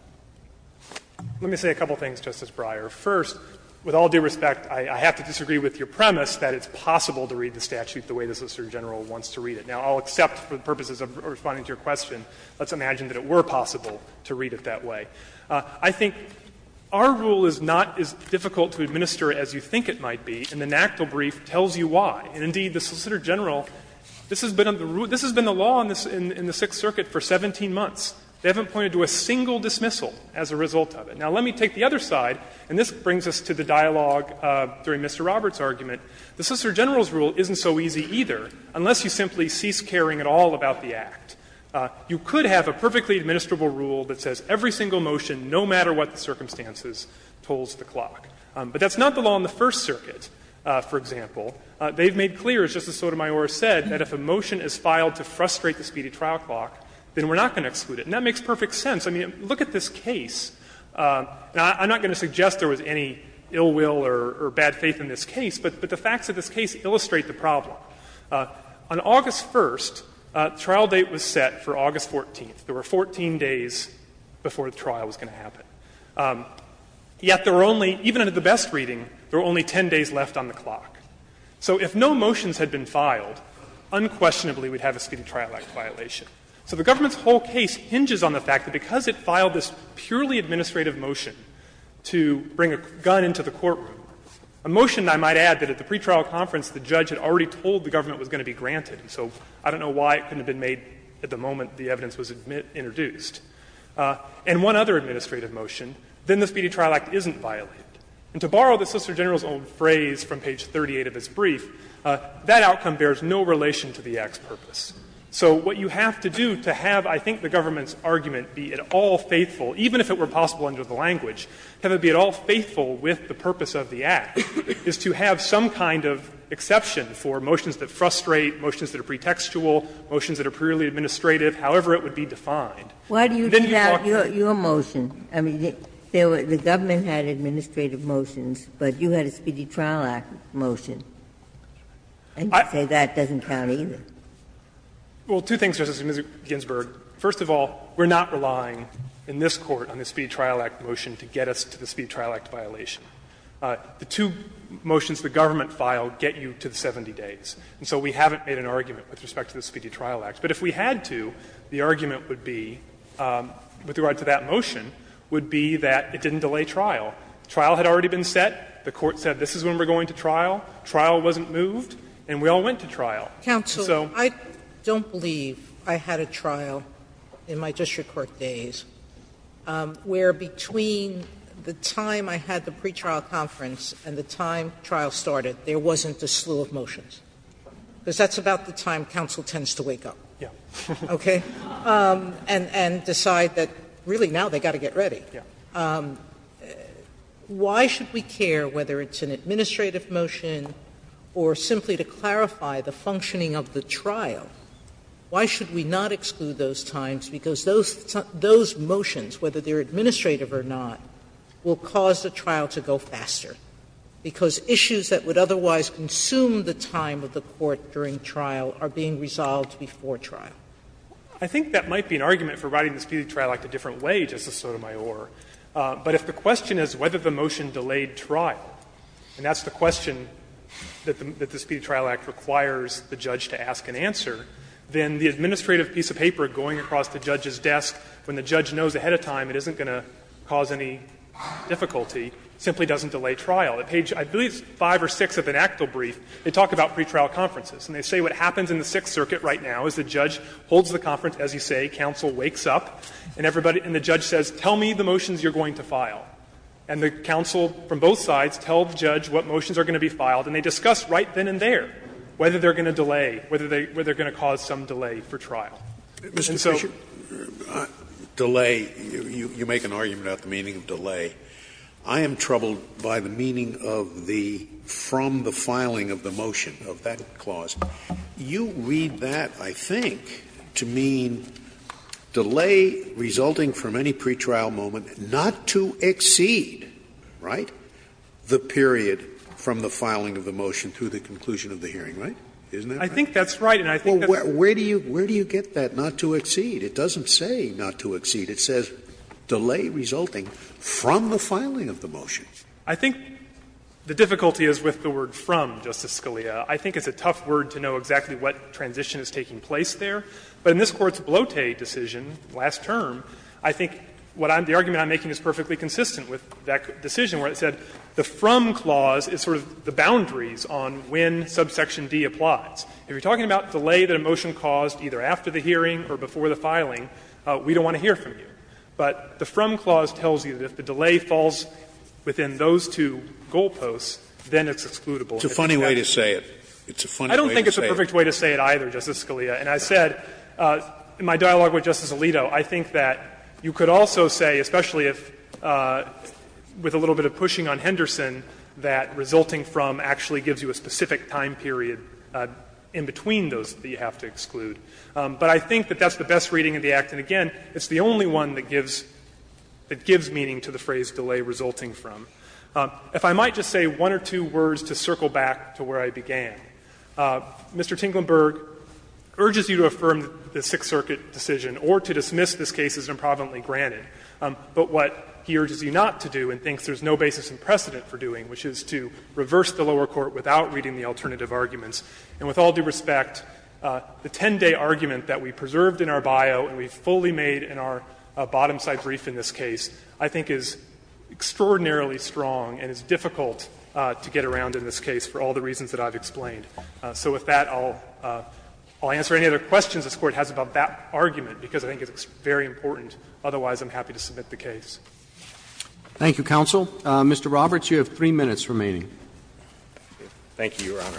Fisherman, Let me say a couple of things, Justice Breyer. First, with all due respect, I have to disagree with your premise that it's possible to read the statute the way the Solicitor General wants to read it. Now, I'll accept for the purposes of responding to your question, let's imagine that it were possible to read it that way. I think our rule is not as difficult to administer as you think it might be, and the Solicitor General, this has been the law in the Sixth Circuit for 17 months. They haven't pointed to a single dismissal as a result of it. Now, let me take the other side, and this brings us to the dialogue during Mr. Roberts' argument. The Solicitor General's rule isn't so easy, either, unless you simply cease caring at all about the Act. You could have a perfectly administrable rule that says every single motion, no matter what the circumstances, tolls the clock. But that's not the law in the First Circuit, for example. They've made clear, as Justice Sotomayor said, that if a motion is filed to frustrate the speedy trial clock, then we're not going to exclude it. And that makes perfect sense. I mean, look at this case. Now, I'm not going to suggest there was any ill will or bad faith in this case, but the facts of this case illustrate the problem. On August 1st, the trial date was set for August 14th. There were 14 days before the trial was going to happen. Yet there were only, even at the best reading, there were only 10 days left on the clock. So if no motions had been filed, unquestionably we'd have a Speedy Trial Act violation. So the government's whole case hinges on the fact that because it filed this purely administrative motion to bring a gun into the courtroom, a motion, I might add, that at the pretrial conference the judge had already told the government was going to be granted, so I don't know why it couldn't have been made at the moment the evidence was introduced, and one other administrative motion, then the Speedy Trial Act isn't violated. And to borrow the Solicitor General's own phrase from page 38 of his brief, that outcome bears no relation to the Act's purpose. So what you have to do to have, I think, the government's argument be at all faithful, even if it were possible under the language, have it be at all faithful with the purpose of the Act, is to have some kind of exception for motions that frustrate, motions that are pretextual, motions that are purely administrative, however it would be defined. Then you talk to the government. Ginsburg, I mean, the government had administrative motions, but you had a Speedy Trial Act motion. I would say that doesn't count either. Fisherman, Well, two things, Justice Ginsburg. First of all, we are not relying in this Court on the Speedy Trial Act motion to get us to the Speedy Trial Act violation. The two motions the government filed get you to the 70 days. And so we haven't made an argument with respect to the Speedy Trial Act. But if we had to, the argument would be, with regard to that motion, would be that it didn't delay trial. Trial had already been set. The Court said this is when we are going to trial. Trial wasn't moved. And we all went to trial. So so. Sotomayor, I don't believe I had a trial in my district court days where between the time I had the pretrial conference and the time trial started, there wasn't a slew of motions. Because that's about the time counsel tends to wake up. Okay. And decide that, really, now they've got to get ready. Why should we care whether it's an administrative motion or simply to clarify the functioning of the trial? Why should we not exclude those times? Because those motions, whether they are administrative or not, will cause the trial to go faster. Because issues that would otherwise consume the time of the court during trial are being resolved before trial. I think that might be an argument for writing the Speedy Trial Act a different way, Justice Sotomayor. But if the question is whether the motion delayed trial, and that's the question that the Speedy Trial Act requires the judge to ask and answer, then the administrative piece of paper going across the judge's desk when the judge knows ahead of time it isn't going to cause any difficulty simply doesn't delay trial. At page, I believe it's 5 or 6 of an Actal brief, they talk about pretrial conferences. And they say what happens in the Sixth Circuit right now is the judge holds the conference, as you say, counsel wakes up, and everybody and the judge says, tell me the motions you're going to file. And the counsel from both sides tell the judge what motions are going to be filed, and they discuss right then and there whether they're going to delay, whether they're going to cause some delay for trial. I am troubled by the meaning of the ''from the filing of the motion'' of that clause. You read that, I think, to mean delay resulting from any pretrial moment not to exceed, right, the period from the filing of the motion through the conclusion of the hearing, Isn't that right? Fisherman I think that's right, and I think that's right. Scalia Where do you get that, not to exceed? It doesn't say not to exceed. It says delay resulting from the filing of the motion. Fisherman I think the difficulty is with the word ''from'', Justice Scalia. I think it's a tough word to know exactly what transition is taking place there. But in this Court's Blote decision last term, I think what I'm the argument I'm making is perfectly consistent with that decision where it said the ''from'' clause is sort of the boundaries on when subsection D applies. If you're talking about delay that a motion caused either after the hearing or before the filing, we don't want to hear from you. But the ''from'' clause tells you that if the delay falls within those two goalposts, then it's excludable. Scalia It's a funny way to say it. It's a funny way to say it. Fisherman I don't think it's a perfect way to say it either, Justice Scalia. And I said in my dialogue with Justice Alito, I think that you could also say, especially if, with a little bit of pushing on Henderson, that resulting from actually gives you a specific time period in between those that you have to exclude. But I think that that's the best reading of the Act. And, again, it's the only one that gives meaning to the phrase ''delay resulting from''. If I might just say one or two words to circle back to where I began. Mr. Tinklenberg urges you to affirm the Sixth Circuit decision or to dismiss this case as improvidently granted. But what he urges you not to do and thinks there's no basis in precedent for doing, which is to reverse the lower court without reading the alternative arguments. And with all due respect, the 10-day argument that we preserved in our bio and we've fully made in our bottom-side brief in this case, I think is extraordinarily strong and is difficult to get around in this case for all the reasons that I've explained. So with that, I'll answer any other questions this Court has about that argument, because I think it's very important. Otherwise, I'm happy to submit the case. Roberts. Thank you, Your Honor.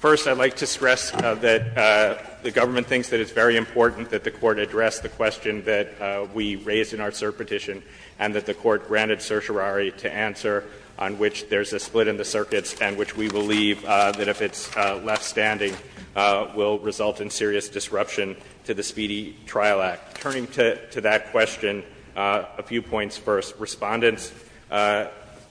First, I'd like to stress that the government thinks that it's very important that the Court address the question that we raised in our cert petition and that the Court granted certiorari to answer on which there's a split in the circuits and which we believe that if it's left standing will result in serious disruption to the Speedy Trial Act. Turning to that question, a few points first. Respondent's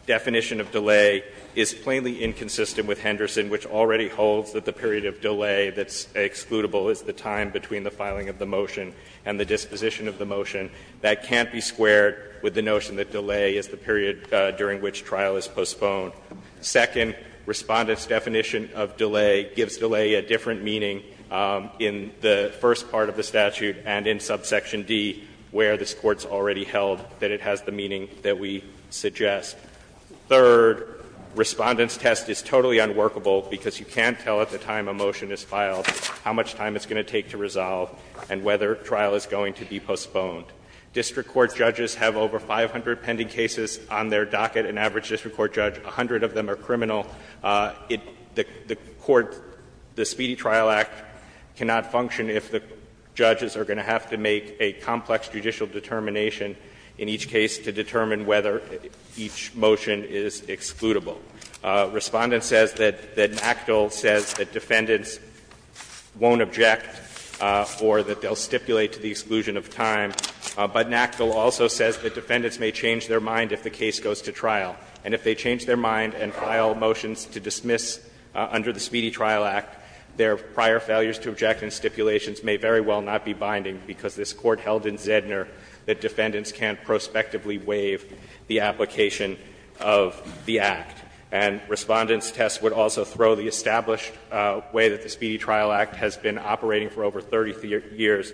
definition of delay is plainly inconsistent with Henderson, which already holds that the period of delay that's excludable is the time between the filing of the motion and the disposition of the motion. That can't be squared with the notion that delay is the period during which trial is postponed. Second, Respondent's definition of delay gives delay a different meaning in the first part of the statute and in subsection D, where this Court's already held that it has the meaning that we suggest. Third, Respondent's test is totally unworkable because you can't tell at the time a motion is filed how much time it's going to take to resolve and whether trial is going to be postponed. District court judges have over 500 pending cases on their docket. An average district court judge, 100 of them are criminal. The court, the Speedy Trial Act cannot function if the judges are going to have to make a complex judicial determination in each case to determine whether each motion is excludable. Respondent says that NACDL says that defendants won't object or that they'll stipulate to the exclusion of time, but NACDL also says that defendants may change their mind if the case goes to trial. And if they change their mind and file motions to dismiss under the Speedy Trial Act, their prior failures to object and stipulations may very well not be binding because this Court held in Zedner that defendants can't prospectively waive the application of the Act. And Respondent's test would also throw the established way that the Speedy Trial Act has been operating for over 30 years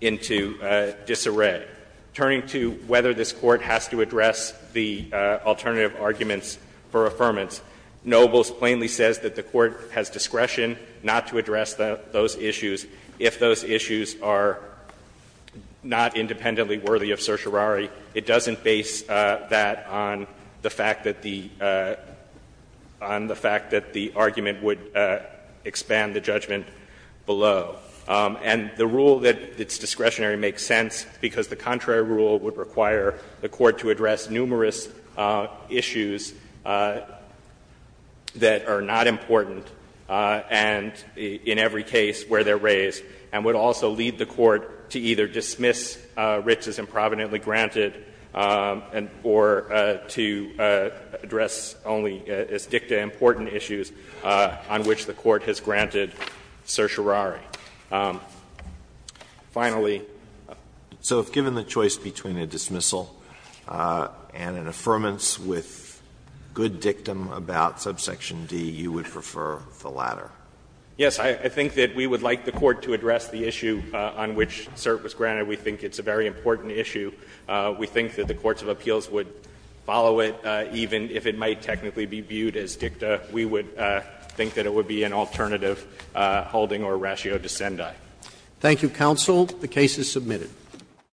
into disarray. Turning to whether this Court has to address the alternative arguments for affirmance, Nobles plainly says that the Court has discretion not to address those issues if those issues are not independently worthy of certiorari. It doesn't base that on the fact that the argument would expand the judgment below. And the rule that it's discretionary makes sense because the contrary rule would require the Court to address numerous issues that are not important and in every case where they're raised and would also lead the Court to either dismiss writs as improvidently granted or to address only as dicta important issues on which the Court has granted certiorari. Finally. Alitoso, if given the choice between a dismissal and an affirmance with good dictum about subsection D, you would prefer the latter? Yes. I think that we would like the Court to address the issue on which cert was granted. We think it's a very important issue. We think that the courts of appeals would follow it even if it might technically be viewed as dicta. We would think that it would be an alternative holding or ratio dissendae. Thank you, counsel. The case is submitted.